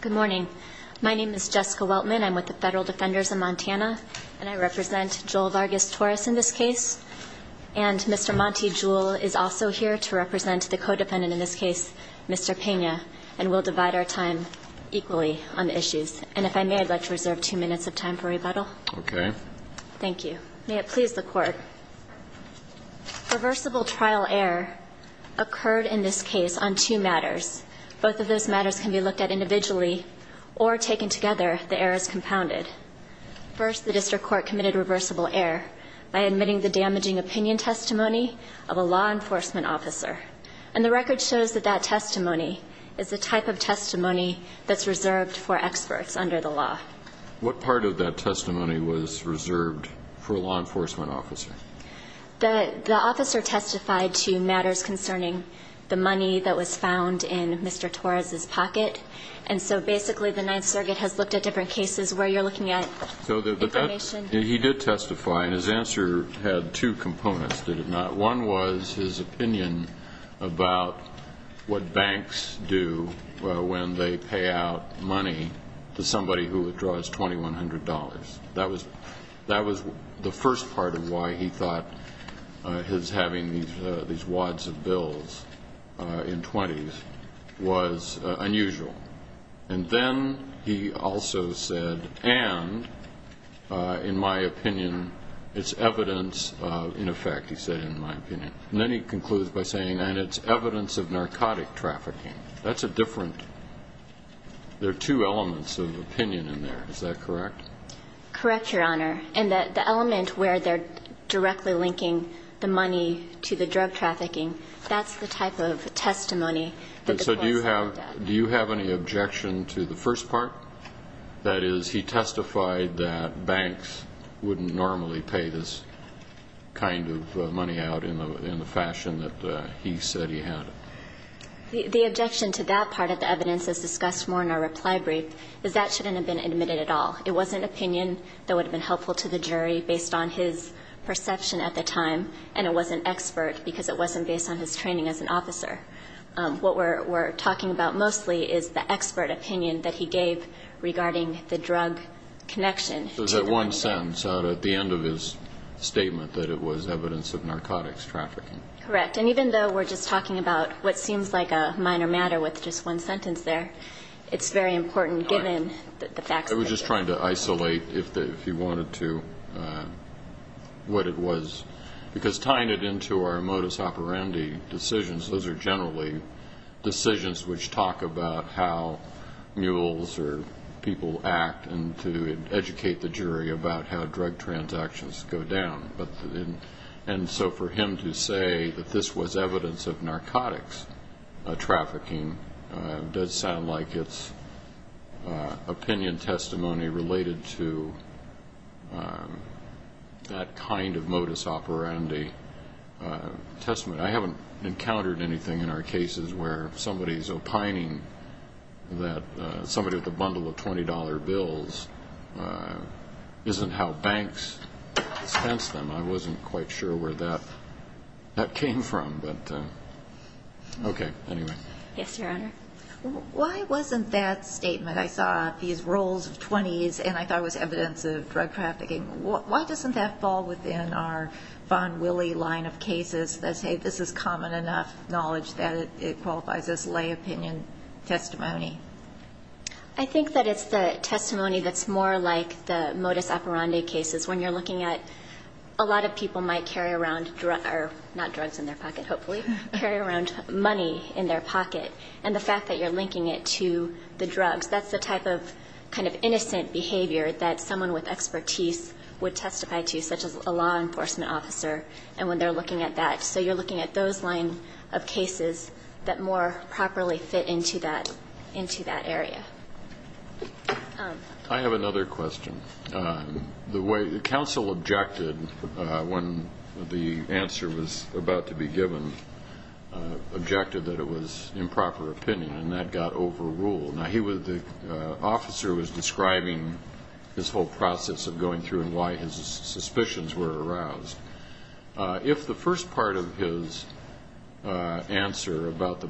Good morning. My name is Jessica Weltman. I'm with the Federal Defenders of Montana, and I represent Joel Vargas Torres in this case, and Mr. Monty Jewell is also here to represent the codependent in this case, Mr. Pena, and we'll divide our time equally on the issues. And if I may, I'd like to reserve two minutes of time for rebuttal. Okay. Thank you. May it please the Court. Reversible trial error occurred in this case on two matters. Both of those matters can be looked at individually or taken together if the error is compounded. First, the district court committed reversible error by admitting the damaging opinion testimony of a law enforcement officer, and the record shows that that testimony is the type of testimony that's reserved for experts under the law. What part of that testimony was reserved for a law enforcement officer? The officer testified to matters concerning the money that was found in Mr. Torres' pocket, and so basically the Ninth Circuit has looked at different cases where you're looking at information. So he did testify, and his answer had two components, did it not? One was his opinion about what banks do when they pay out money to somebody who withdraws $2,100. That was the first part of why he thought his having these wads of bills in twenties was unusual. And then he also said, and, in my opinion, it's evidence of, in effect, he said, in my opinion. And then he concludes by saying, and it's evidence of narcotic trafficking. That's a different, there are two elements of opinion in there. Is that correct? Correct, Your Honor. And the element where they're directly linking the money to the drug trafficking, that's the type of testimony that the courts looked at. Do you have any objection to the first part? That is, he testified that banks wouldn't normally pay this kind of money out in the fashion that he said he had. The objection to that part of the evidence, as discussed more in our reply brief, is that shouldn't have been admitted at all. It was an opinion that would have been helpful to the jury based on his perception at the time, and it wasn't expert because it wasn't based on his training as an officer. What we're talking about mostly is the expert opinion that he gave regarding the drug connection to the money. So it's that one sentence out at the end of his statement that it was evidence of narcotics trafficking. Correct. And even though we're just talking about what seems like a minor matter with just one sentence there, it's very important given the facts of the case. I was just trying to isolate, if you wanted to, what it was. Because tying it into our modus operandi decisions, those are generally decisions which talk about how mules or people act and to educate the jury about how drug transactions go down. And so for him to say that this was evidence of narcotics trafficking does sound like it's opinion testimony related to that kind of modus operandi testimony. I haven't encountered anything in our cases where somebody is opining that somebody with a bundle of $20 bills isn't how banks expense them. I wasn't quite sure where that came from. But, okay, anyway. Yes, Your Honor. Why wasn't that statement, I saw these rolls of 20s and I thought it was evidence of drug trafficking. Why doesn't that fall within our Von Wille line of cases that say this is common enough knowledge that it qualifies as lay opinion testimony? I think that it's the testimony that's more like the modus operandi cases. When you're looking at a lot of people might carry around drugs, not drugs in their pocket, hopefully, carry around money in their pocket. And the fact that you're linking it to the drugs, that's the type of kind of innocent behavior that someone with expertise would testify to, such as a law enforcement officer and when they're looking at that. So you're looking at those line of cases that more properly fit into that area. I have another question. The way the counsel objected when the answer was about to be given, objected that it was improper opinion and that got overruled. Now, he was the officer who was describing this whole process of going through and why his suspicions were aroused. If the first part of his answer about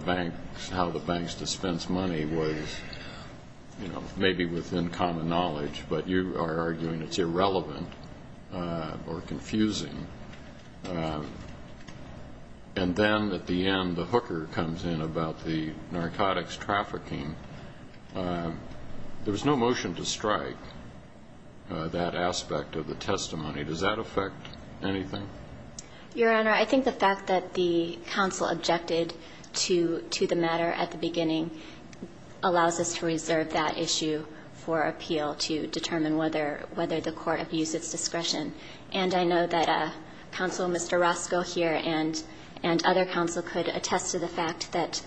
how the banks dispense money was maybe within common knowledge, but you are arguing it's irrelevant or confusing, and then at the end the hooker comes in about the narcotics trafficking, there was no motion to strike that aspect of the testimony. Does that affect anything? Your Honor, I think the fact that the counsel objected to the matter at the beginning allows us to reserve that issue for appeal to determine whether the court abused its discretion. And I know that Counsel Mr. Roscoe here and other counsel could attest to the fact that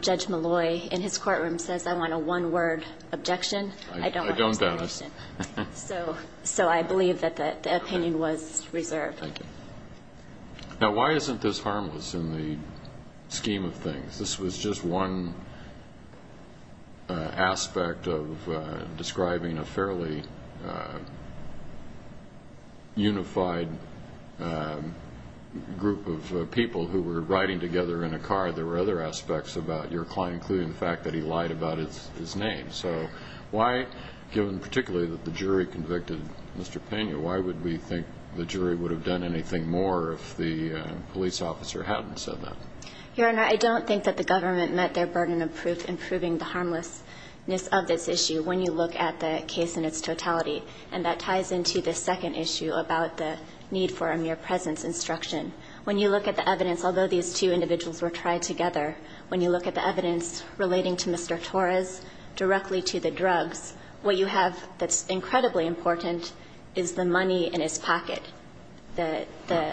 Judge Malloy in his courtroom says, I want a one-word objection. I don't want a one-word objection. I don't, Dennis. So I believe that the opinion was reserved. Thank you. Now, why isn't this harmless in the scheme of things? This was just one aspect of describing a fairly unified group of people who were riding together in a car. There were other aspects about your client, including the fact that he lied about his name. So why, given particularly that the jury convicted Mr. Pena, why would we think the jury would have done anything more if the police officer hadn't said that? Your Honor, I don't think that the government met their burden of proof in proving the harmlessness of this issue when you look at the case in its totality. And that ties into the second issue about the need for a mere presence instruction. When you look at the evidence, although these two individuals were tried together, when you look at the evidence relating to Mr. Torres directly to the drugs, what you have that's incredibly important is the money in his pocket. The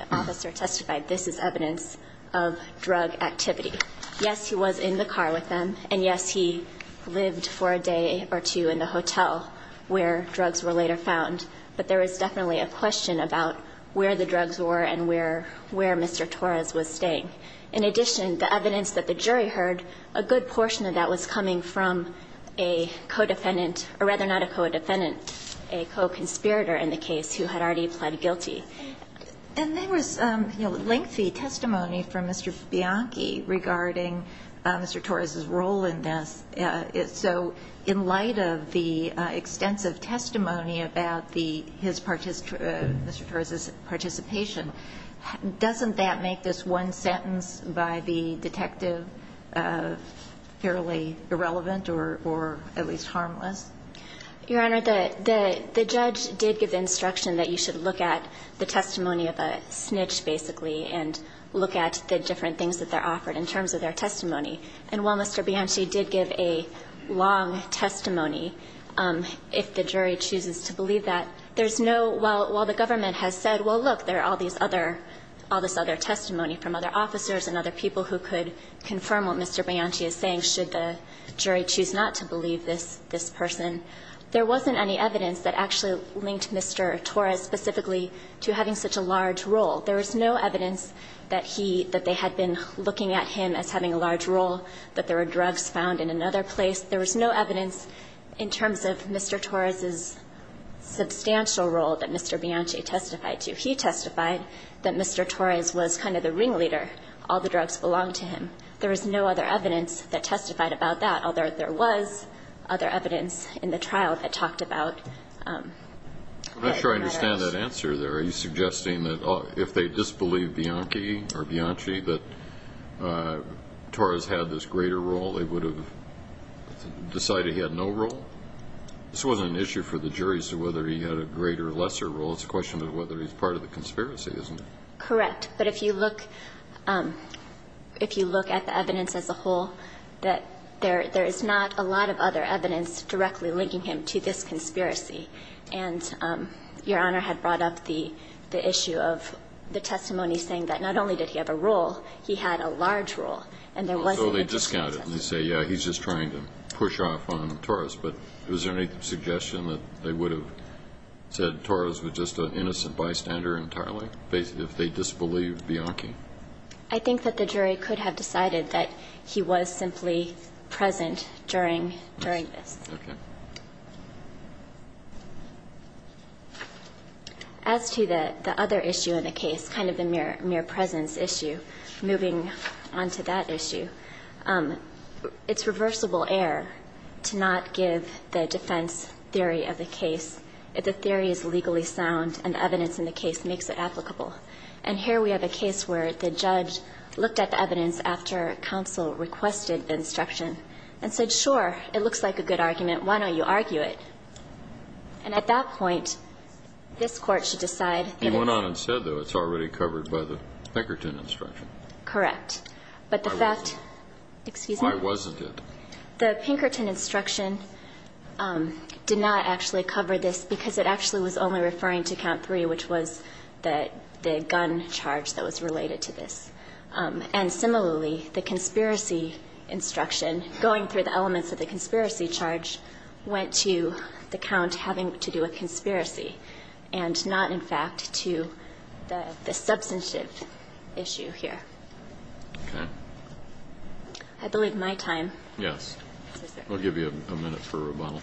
officer testified, this is evidence of drug activity. Yes, he was in the car with them, and yes, he lived for a day or two in the hotel where drugs were later found, but there is definitely a question about where the drugs were and where Mr. Torres was staying. In addition, the evidence that the jury heard, a good portion of that was coming from a co-defendant, or rather not a co-defendant, a co-conspirator in the case who had already pled guilty. And there was lengthy testimony from Mr. Bianchi regarding Mr. Torres' role in this. So in light of the extensive testimony about the Mr. Torres' participation, doesn't that make this one sentence by the detective fairly irrelevant or at least harmless? Your Honor, the judge did give the instruction that you should look at the testimony of a snitch, basically, and look at the different things that they're offered in terms of their testimony. And while Mr. Bianchi did give a long testimony, if the jury chooses to believe that, there's no – while the government has said, well, look, there are all these other – all this other testimony from other officers and other people who could confirm what Mr. Bianchi is saying should the jury choose not to believe this person, there wasn't any evidence that actually linked Mr. Torres specifically to having such a large role. There was no evidence that he – that they had been looking at him as having a large role, that there were drugs found in another place. There was no evidence in terms of Mr. Torres' substantial role that Mr. Bianchi testified to. He testified that Mr. Torres was kind of the ringleader. All the drugs belonged to him. There was no other evidence that testified about that, although there was other evidence in the trial that talked about that. I'm not sure I understand that answer there. Are you suggesting that if they disbelieved Bianchi that Torres had this greater role, they would have decided he had no role? This wasn't an issue for the jury as to whether he had a greater or lesser role. It's a question of whether he's part of the conspiracy, isn't it? Correct. But if you look – if you look at the evidence as a whole, that there is not a lot of other evidence directly linking him to this conspiracy. And Your Honor had brought up the issue of the testimony saying that not only did he have a role, he had a large role, and there wasn't a discrepancy. So they discount it and say, yes, he's just trying to push off on Torres. But is there any suggestion that they would have said Torres was just an innocent bystander entirely? If they disbelieved Bianchi. I think that the jury could have decided that he was simply present during this. Okay. As to the other issue in the case, kind of the mere presence issue, moving on to that issue, it's reversible error to not give the defense theory of the case, if the theory is legally sound and the evidence in the case makes it applicable. And here we have a case where the judge looked at the evidence after counsel requested instruction and said, sure, it looks like a good argument. Why don't you argue it? And at that point, this Court should decide that it's – He went on and said, though, it's already covered by the Pinkerton instruction. Correct. But the fact – Why wasn't it? Excuse me? Why wasn't it? The Pinkerton instruction did not actually cover this because it actually was only referring to count three, which was the gun charge that was related to this. And similarly, the conspiracy instruction, going through the elements of the conspiracy charge, went to the count having to do with conspiracy and not, in fact, to the substantive issue here. Okay. I believe my time. Yes. I'll give you a minute for rebuttal.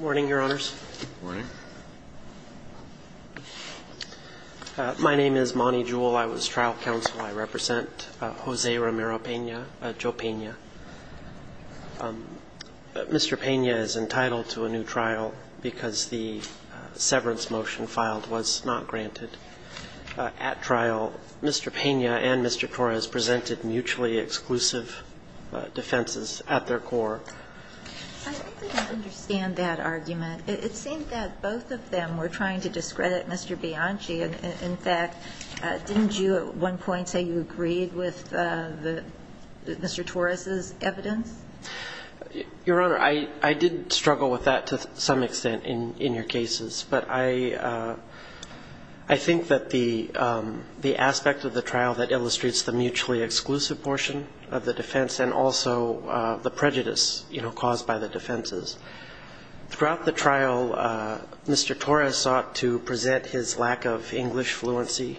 Morning, Your Honors. Morning. My name is Monty Jewell. I was trial counsel. I represent Jose Romero Pena – Joe Pena. Mr. Pena is entitled to a new trial because the severance motion filed was not granted. At trial, Mr. Pena and Mr. Torres presented mutually exclusive defenses at their court. I don't understand that argument. It seemed that both of them were trying to discredit Mr. Bianchi. In fact, didn't you at one point say you agreed with Mr. Torres' evidence? Your Honor, I did struggle with that to some extent in your cases. But I think that the aspect of the trial that illustrates the mutually exclusive portion of the defense and also the prejudice caused by the defenses, throughout the trial, Mr. Torres sought to present his lack of English fluency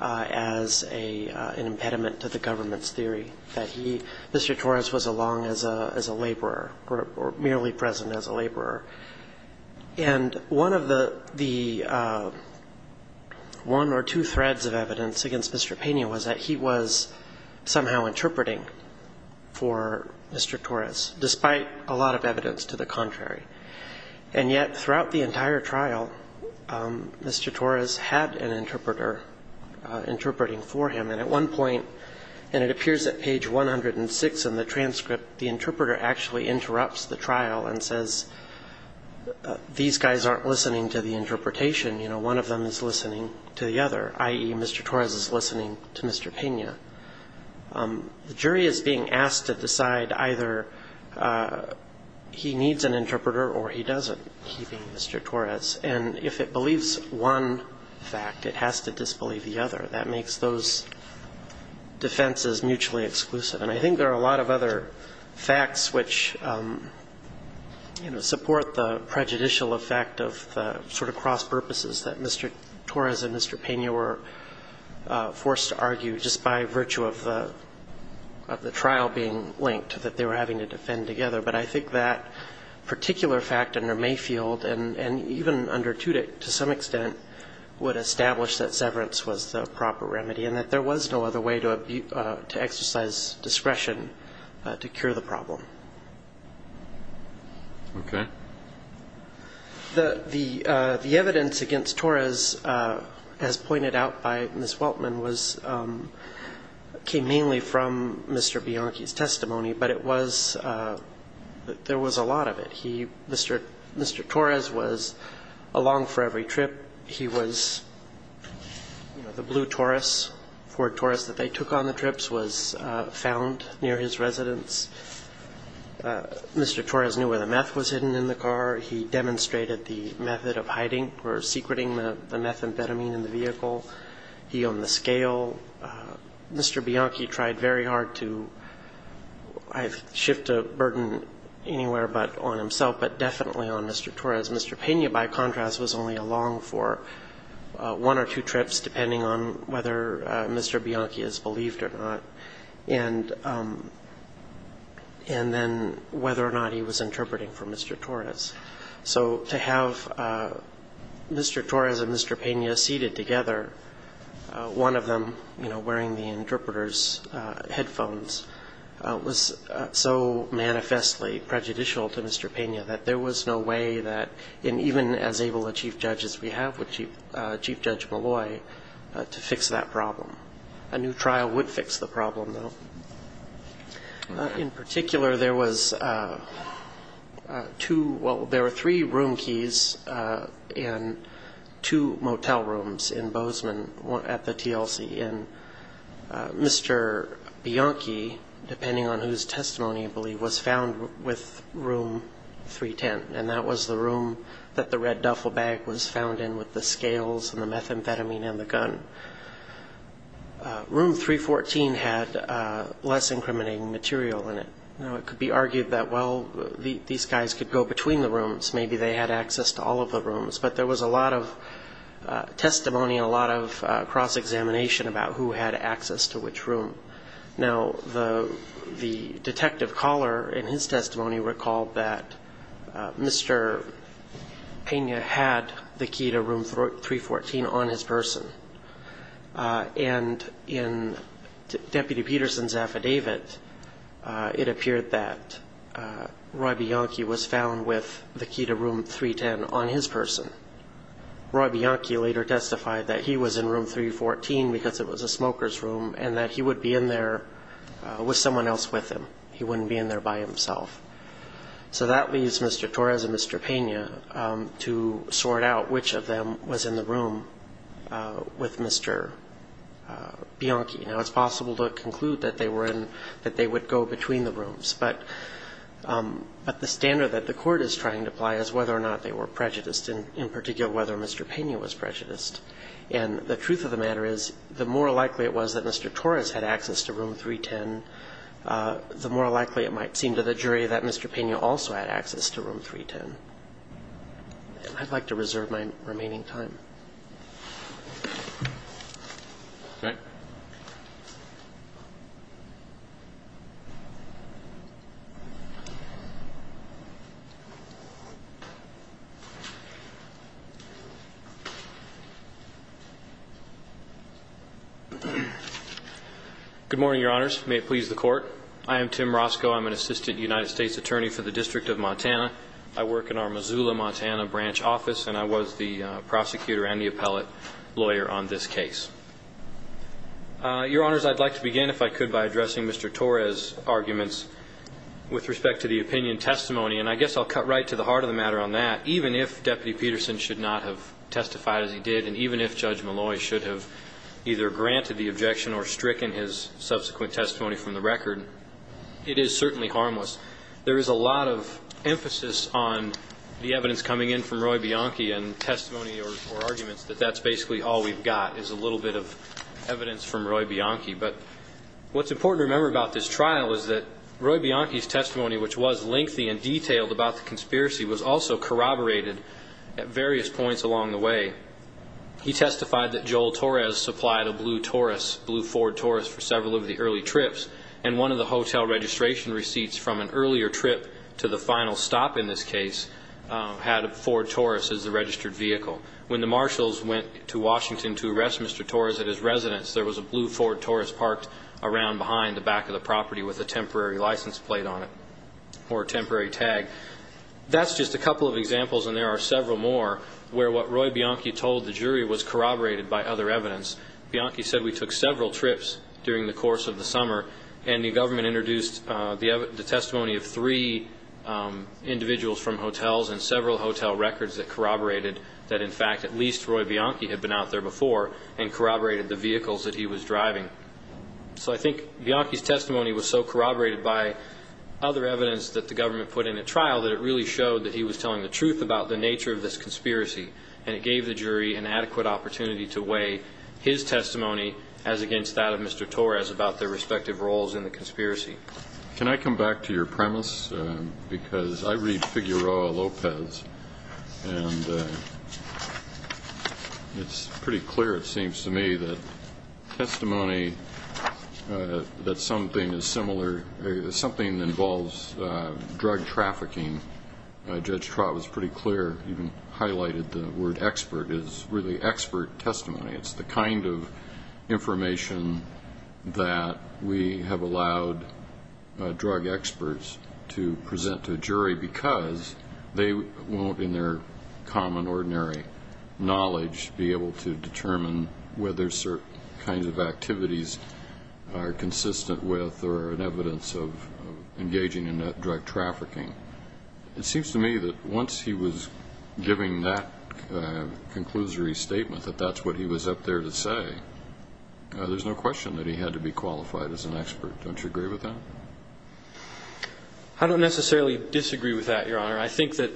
as an impediment to the government's theory that he, Mr. Torres, was along as a laborer or merely present as a laborer. And one of the one or two threads of evidence against Mr. Pena was that he was somehow interpreting for Mr. Torres, despite a lot of evidence to the contrary. And yet, throughout the entire trial, Mr. Torres had an interpreter interpreting for him. And at one point, and it appears at page 106 in the transcript, the interpreter actually interrupts the trial and says, these guys aren't listening to the interpretation. You know, one of them is listening to the other, i.e., Mr. Torres is listening to Mr. Pena. The jury is being asked to decide either he needs an interpreter or he doesn't. And if it believes one fact, it has to disbelieve the other. That makes those defenses mutually exclusive. And I think there are a lot of other facts which, you know, support the prejudicial effect of the sort of cross-purposes that Mr. Torres and Mr. Pena were forced to argue, just by virtue of the trial being linked, that they were having to defend together. But I think that particular fact under Mayfield and even under Tudyk, to some extent, would establish that severance was the proper remedy and that there was no other way to exercise discretion to cure the problem. Okay. The evidence against Torres, as pointed out by Ms. Weltman, came mainly from Mr. Bianchi's testimony, but it was, there was a lot of it. He, Mr. Torres was along for every trip. He was, you know, the blue Torres, Ford Torres that they took on the trips was found near his residence. Mr. Torres knew where the meth was hidden in the car. He demonstrated the method of hiding or secreting the methamphetamine in the vehicle. He owned the scale. Mr. Bianchi tried very hard to shift the burden anywhere but on himself, but definitely on Mr. Torres. Mr. Pena, by contrast, was only along for one or two trips, depending on whether Mr. Bianchi is believed or not. And then whether or not he was interpreting for Mr. Torres. So to have Mr. Torres and Mr. Pena seated together, one of them, you know, wearing the interpreter's headphones, was so manifestly prejudicial to Mr. Pena that there was no way that, and even as able a chief judge as we have with this problem, a new trial would fix the problem, though. In particular, there was two, well, there were three room keys and two motel rooms in Bozeman at the TLC, and Mr. Bianchi, depending on whose testimony I believe, was found with room 310, and that was the room that the red duffel bag was found in with the scales and the methamphetamine and the gun. Room 314 had less incriminating material in it. You know, it could be argued that, well, these guys could go between the rooms, maybe they had access to all of the rooms, but there was a lot of testimony and a lot of cross-examination about who had access to which room. Now, the detective caller in his testimony recalled that Mr. Pena had the key to room 314 on his person, and in Deputy Peterson's affidavit, it appeared that Roy Bianchi was found with the key to room 310 on his person. Roy Bianchi later testified that he was in room 314 because it was a smoker's room, and he would not be in there with someone else with him. He wouldn't be in there by himself. So that leaves Mr. Torres and Mr. Pena to sort out which of them was in the room with Mr. Bianchi. Now, it's possible to conclude that they would go between the rooms, but the standard that the court is trying to apply is whether or not they were prejudiced, and in particular whether Mr. Pena was prejudiced. And the truth of the matter is, the more likely it was that Mr. Torres had access to room 310, the more likely it might seem to the jury that Mr. Pena also had access to room 310. And I'd like to reserve my remaining time. Okay. Good morning, Your Honors. May it please the Court? I am Tim Roscoe. I'm an assistant prosecutor and the appellate lawyer on this case. Your Honors, I'd like to begin, if I could, by addressing Mr. Torres' arguments with respect to the opinion testimony. And I guess I'll cut right to the heart of the matter on that. Even if Deputy Peterson should not have testified as he did, and even if Judge Malloy should have either granted the objection or stricken his subsequent testimony from the record, it is certainly harmless. There is a lot of emphasis on the evidence coming in from Roy Bianchi and testimony or arguments that that's basically all we've got is a little bit of evidence from Roy Bianchi. But what's important to remember about this trial is that Roy Bianchi's testimony, which was lengthy and detailed about the conspiracy, was also corroborated at various points along the way. He testified that Joel Torres supplied a blue Taurus, blue Ford Taurus, for several of the early trips. And one of the hotel registration receipts from an earlier trip to the final stop in this case had a Ford Taurus as the registered vehicle. When the marshals went to Washington to arrest Mr. Torres at his residence, there was a blue Ford Taurus parked around behind the back of the property with a temporary license plate on it or a temporary tag. That's just a couple of points. Bianchi said we took several trips during the course of the summer, and the government introduced the testimony of three individuals from hotels and several hotel records that corroborated that, in fact, at least Roy Bianchi had been out there before and corroborated the vehicles that he was driving. So I think Bianchi's testimony was so corroborated by other evidence that the government put in at trial that it really showed that he was involved in this case. I don't have any further comment on his testimony as against that of Mr. Torres about their respective roles in the conspiracy. Can I come back to your premise? Because I read Figueroa Lopez, and it's pretty clear, it seems to me, that testimony that something is similar or something that involves drug trafficking, Judge Trott was pretty clear, even highlighted the word expert, is really expert testimony. It's the kind of information that we have allowed drug experts to present to a jury because they won't, in their common, ordinary knowledge, be able to determine whether certain kinds of activities are consistent with or are evidence of engaging in drug trafficking. It seems to me that once he was giving that conclusory statement, that that's what he was up there to say, there's no question that he had to be qualified as an expert. Don't you agree with that? I don't necessarily disagree with that, Your Honor. I think that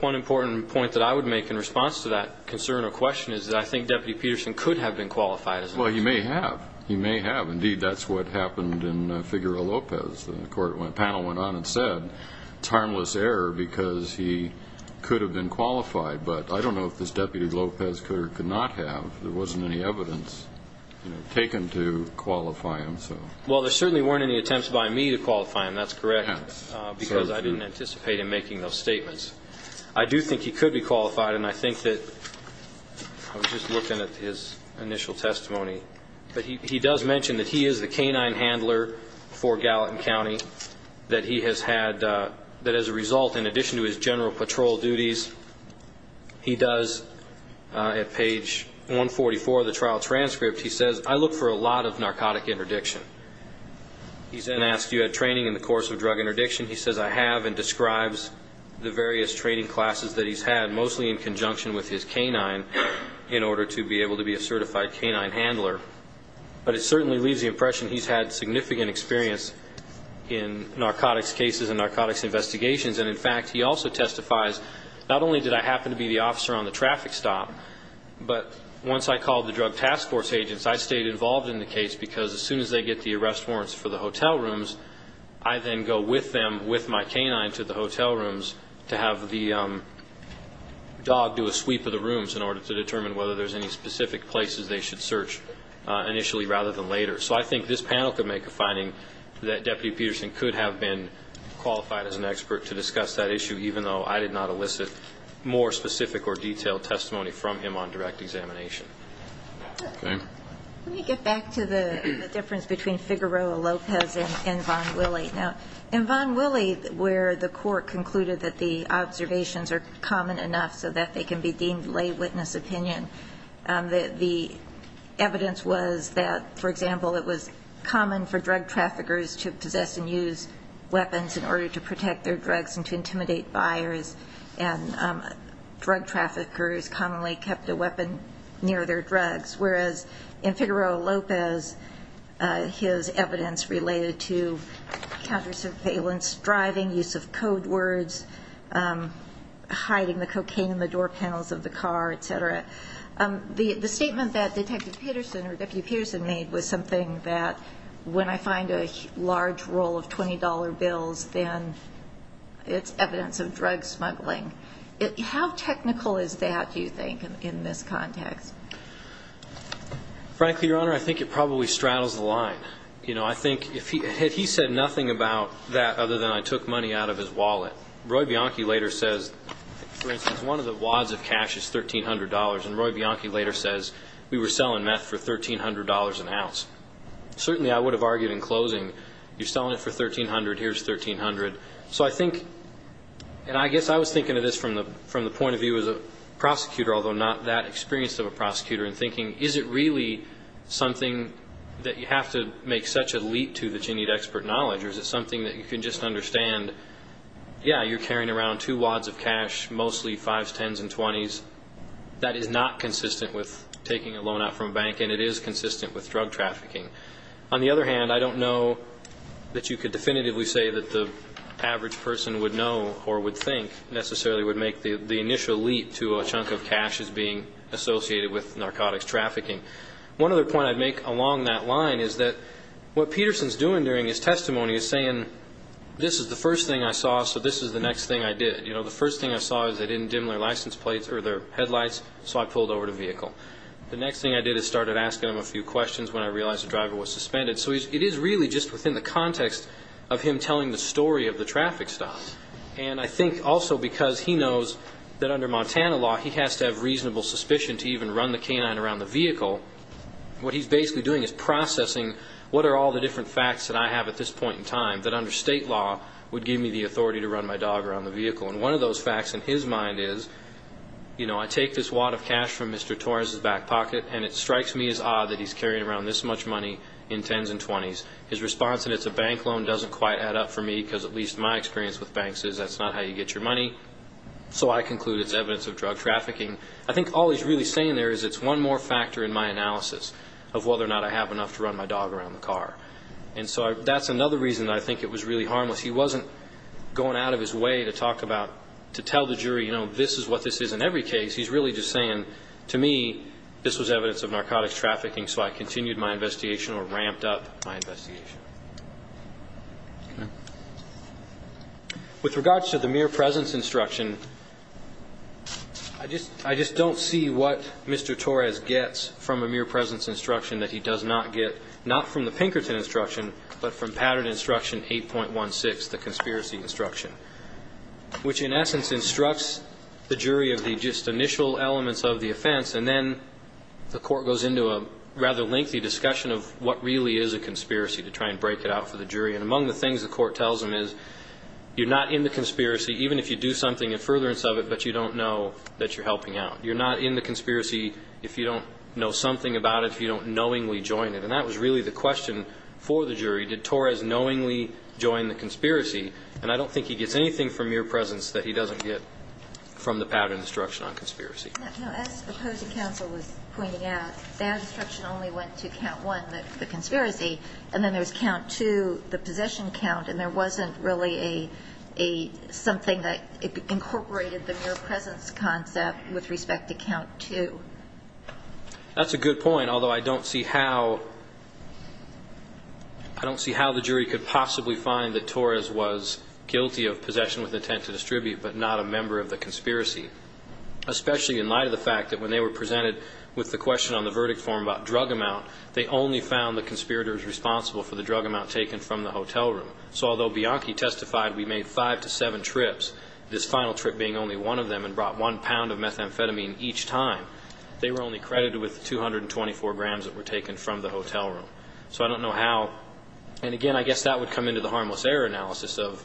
one important point that I would make in response to that concern or question is that I think Deputy Peterson could have been qualified as an expert. Well, he may have. He may have. Indeed, that's what happened in Figueroa Lopez. The panel went on and said, it's harmless error because he could have been qualified. But I don't know if this Deputy Lopez could or could not have. There wasn't any evidence taken to qualify him. Well, there certainly weren't any attempts by me to qualify him, that's correct, because I didn't anticipate him making those statements. I do think he could be qualified, and I think that, I was just looking at his initial testimony. But he does mention that he is the canine handler for Gallatin County, that he has had, that as a result, in addition to his general patrol duties, he does, at page 144 of the trial transcript, he says, I look for a lot of narcotic interdiction. He's then asked, you had training in the course of drug interdiction? He says, I have, and describes the various training classes that he's had, mostly in conjunction with his canine, in order to be able to be a certified canine handler. But it certainly leaves the impression he's had significant experience in narcotics cases and narcotics investigations. And, in fact, he also testifies, not only did I happen to be the officer on the traffic stop, but once I called the Drug Task Force agents, I stayed involved in the case, because as soon as they get the arrest warrants for the hotel rooms, I then go with them, with my canine, to the hotel rooms to have the dog do a sweep of the rooms in order to determine whether there's any specific places they should search initially, rather than later. So I think this panel could make a finding that Deputy Peterson could have been qualified as an expert to discuss that issue, even though I did not elicit more specific or detailed testimony from him on direct examination. Let me get back to the difference between Figueroa-Lopez and Von Willey. Now, in Von Willey, where the court concluded that the observations are common enough so that they can be deemed lay witness opinion, the evidence was that, for example, it was common for drug traffickers to possess and use weapons in order to protect their drugs and to intimidate buyers, and drug traffickers commonly kept a weapon near their drugs, whereas in Figueroa-Lopez, his evidence related to counter surveillance, driving, use of code words, hiding the cocaine in the door panels of the car, et cetera. The statement that Detective Peterson or Deputy Peterson made was something that when I find a large roll of $20 bills, then it's evidence of drug smuggling. How technical is that, do you think, in this context? Frankly, Your Honor, I think it probably straddles the line. You know, I think if he said nothing about that other than I took money out of his wallet. Roy Bianchi later says, for instance, one of the wads of cash is $1,300, and Roy Bianchi later says, we were selling meth for $1,300 an ounce. Certainly I would have argued in closing, you're selling it for $1,300, here's $1,300. So I think, and I guess I was thinking of this from the point of view as a prosecutor, although not that experienced of a prosecutor, and thinking, is it really something that you have to make such a leap to that you need expert knowledge, or is it something that you can just understand, yeah, you're carrying around two wads of cash, mostly 5s, 10s, and 20s. That is not consistent with taking a loan out from a bank, and it is consistent with drug trafficking. On the other hand, I don't know that you could definitively say that the average person would know or would think necessarily would make the initial leap to a chunk of cash as being associated with narcotics trafficking. One other point I'd make along that line is that what Peterson's doing during his testimony is saying, this is the first thing I saw, so this is the next thing I did. The first thing I saw is they didn't dim their license plates, or their headlights, so I pulled over to vehicle. The next thing I did is started asking him a few questions when I realized the driver was suspended. So it is really just within the context of him telling the story of the traffic stop. And I think also because he knows, and I think he knows, that under Montana law, he has to have reasonable suspicion to even run the canine around the vehicle. What he's basically doing is processing what are all the different facts that I have at this point in time that under state law would give me the authority to run my dog around the vehicle. And one of those facts in his mind is, you know, I take this wad of cash from Mr. Torres's back pocket, and it strikes me as odd that he's carrying around this much money in 10s and 20s. His response that it's a bank loan doesn't quite add up for me, because at least my experience with banks is that's not how you get your money. So I conclude it's evidence of drug trafficking. I think all he's really saying there is it's one more factor in my analysis of whether or not I have enough to run my dog around the car. And so that's another reason I think it was really harmless. He wasn't going out of his way to talk about, to tell the jury, you know, this is what this is in every case. He's really just saying, to me, this was evidence of narcotics trafficking, so I continued my investigation or ramped up my investigation. With regards to the mere presence instruction, I just don't see what Mr. Torres gets from a mere presence instruction that he does not get, not from the Pinkerton instruction, but from Pattern Instruction 8.16, the conspiracy instruction, which in essence instructs the jury of the just initial elements of the offense, and then the court goes into a rather lengthy discussion of what really is a conspiracy to try and break it out for the jury. And among the things the court tells them is you're not in the conspiracy, even if you do something in furtherance of it, but you don't know that you're helping out. You're not in the conspiracy if you don't know something about it, if you don't knowingly join it. And that was really the question for the jury. Did Torres knowingly join the conspiracy? And I don't think he gets anything from mere presence that he doesn't get from the Pattern Instruction on conspiracy. And then there's count two, the possession count, and there wasn't really something that incorporated the mere presence concept with respect to count two. That's a good point, although I don't see how the jury could possibly find that Torres was guilty of possession with intent to distribute, but not a member of the conspiracy, especially in light of the fact that when they were presented with the question on the verdict form about drug amount, they only found the conspirators responsible for the drug amount taken from the hotel room. So although Bianchi testified, we made five to seven trips, this final trip being only one of them, and brought one pound of methamphetamine each time, they were only credited with 224 grams that were taken from the hotel room. So I don't know how. And again, I guess that would come into the harmless error analysis of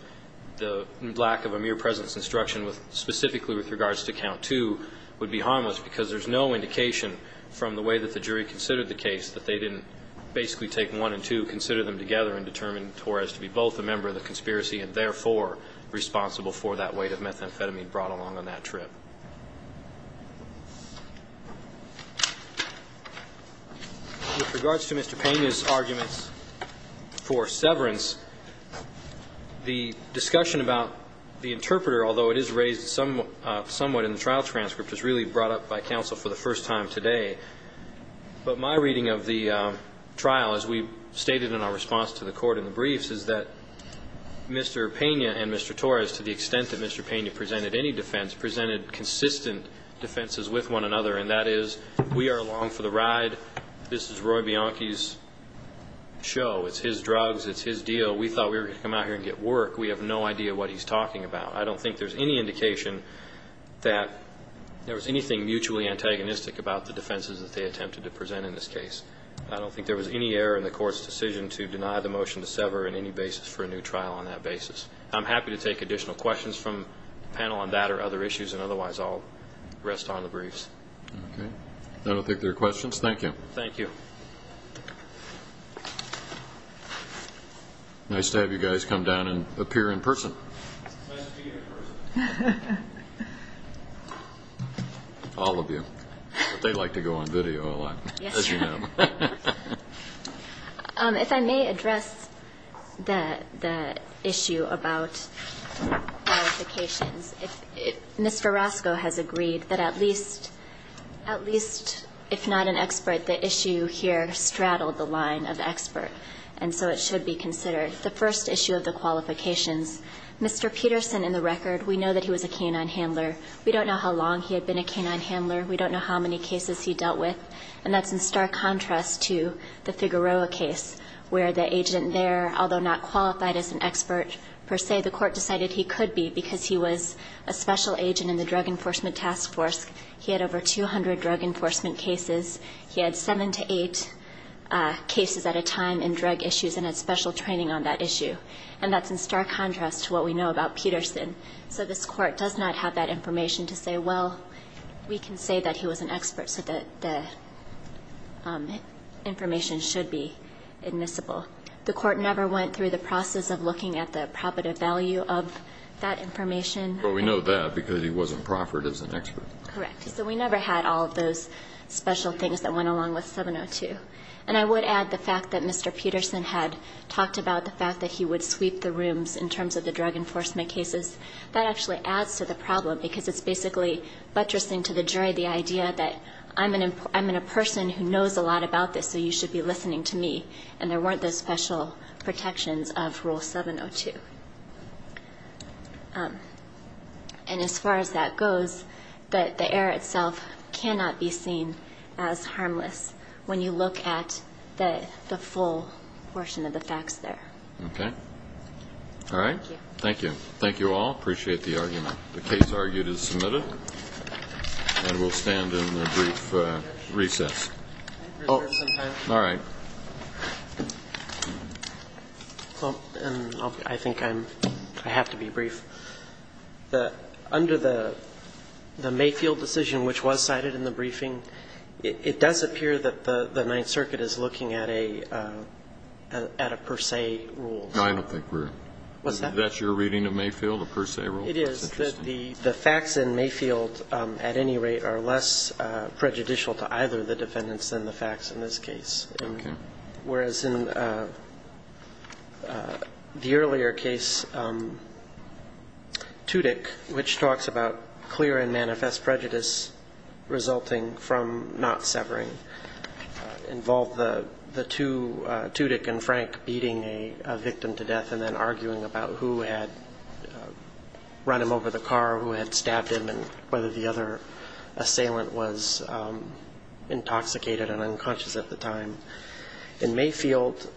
the lack of a mere presence instruction, specifically with regards to count two, would be harmless because there's no indication from the way that the jury considered the case that they didn't basically take one and two, consider them together and determine Torres to be both a member of the conspiracy and therefore responsible for that weight of methamphetamine brought along on that trip. With regards to Mr. Pena's arguments for severance, the discussion about the interpreter, although it is raised somewhat in the trial transcript, is really brought up by counsel for the first time today. But my reading of the trial, as we stated in our response to the court in the briefs, is that Mr. Pena and Mr. Torres, to the extent that Mr. Pena presented any defense, presented consistent defenses with one another, and that is, we are along for the ride. This is Roy Bianchi's show. It's his drugs. It's his deal. We thought we were going to come out here and get work. We have no idea what he's talking about. I don't think there's any indication that there was anything mutually antagonistic about the defenses that they attempted to present in this case. I don't think there was any error in the court's decision to deny the motion to sever in any basis for a new trial on that basis. I'm happy to take additional questions from the panel on that or other issues, and otherwise I'll rest on the briefs. Okay. I don't think there are questions. Thank you. Thank you. Nice to have you guys come down and appear in person. All of you. They like to go on video a lot, as you know. If I may address the issue about notifications. Mr. Roscoe has agreed that at least, if not an expert, they should be able to consider the issue here, straddle the line of expert, and so it should be considered. The first issue of the qualifications, Mr. Peterson, in the record, we know that he was a canine handler. We don't know how long he had been a canine handler. We don't know how many cases he dealt with. And that's in stark contrast to the Figueroa case, where the agent there, although not qualified as an expert, per se, the court decided he could be because he was a special agent in the Drug Enforcement Task Force. He had over 200 drug enforcement cases. He had seven to eight cases at a time in drug issues and had special training on that issue. And that's in stark contrast to what we know about Peterson. So this Court does not have that information to say, well, we can say that he was an expert, so the information should be admissible. The Court never went through the process of looking at the profit of value of that information. But we know that because he wasn't proffered as an expert. Correct. So we never had all of those special things that went along with 702. And I would add the fact that Mr. Peterson had talked about the fact that he would sweep the rooms in terms of the drug enforcement cases. That actually adds to the problem, because it's basically buttressing to the jury the idea that I'm a person who knows a lot about this, so you should be listening to me, and there weren't those special protections of Rule 702. And as far as that goes, the error itself cannot be seen as harmless when you look at the full portion of the facts there. Okay. All right. Thank you. Thank you all. Appreciate the argument. The case argued is submitted, and we'll stand in the brief recess. All right. Well, and I think I'm – I have to be brief. Under the Mayfield decision, which was cited in the briefing, it does appear that the Ninth Circuit is looking at a per se rule. I don't think we're. What's that? Is that your reading of Mayfield, a per se rule? It is. That's interesting. The facts in Mayfield, at any rate, are less prejudicial to either of the defendants than the facts in this case. Whereas in the earlier case, Tudyk, which talks about clear and manifest prejudice resulting from not severing, involved the two, Tudyk and Frank, beating a victim to death and then arguing about who had run him over the car, who had stabbed him, and whether the other assailant was intoxicated and unconscious at the time. In Mayfield,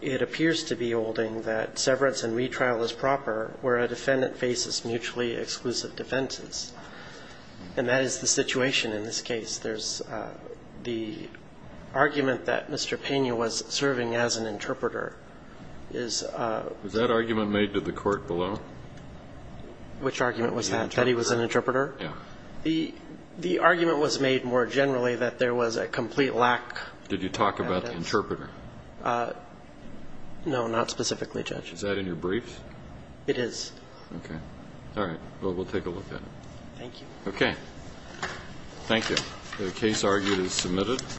it appears to be holding that severance and retrial is proper where a defendant faces mutually exclusive defenses. And that is the situation in this case. There's the argument that Mr. Pena was serving as an interpreter is – Was that argument made to the court below? Which argument was that, that he was an interpreter? Yeah. The argument was made more generally that there was a complete lack of evidence. Did you talk about the interpreter? No, not specifically, Judge. Is that in your briefs? It is. Okay. All right. Well, we'll take a look at it. Thank you. Okay. Thank you. The case argued is submitted.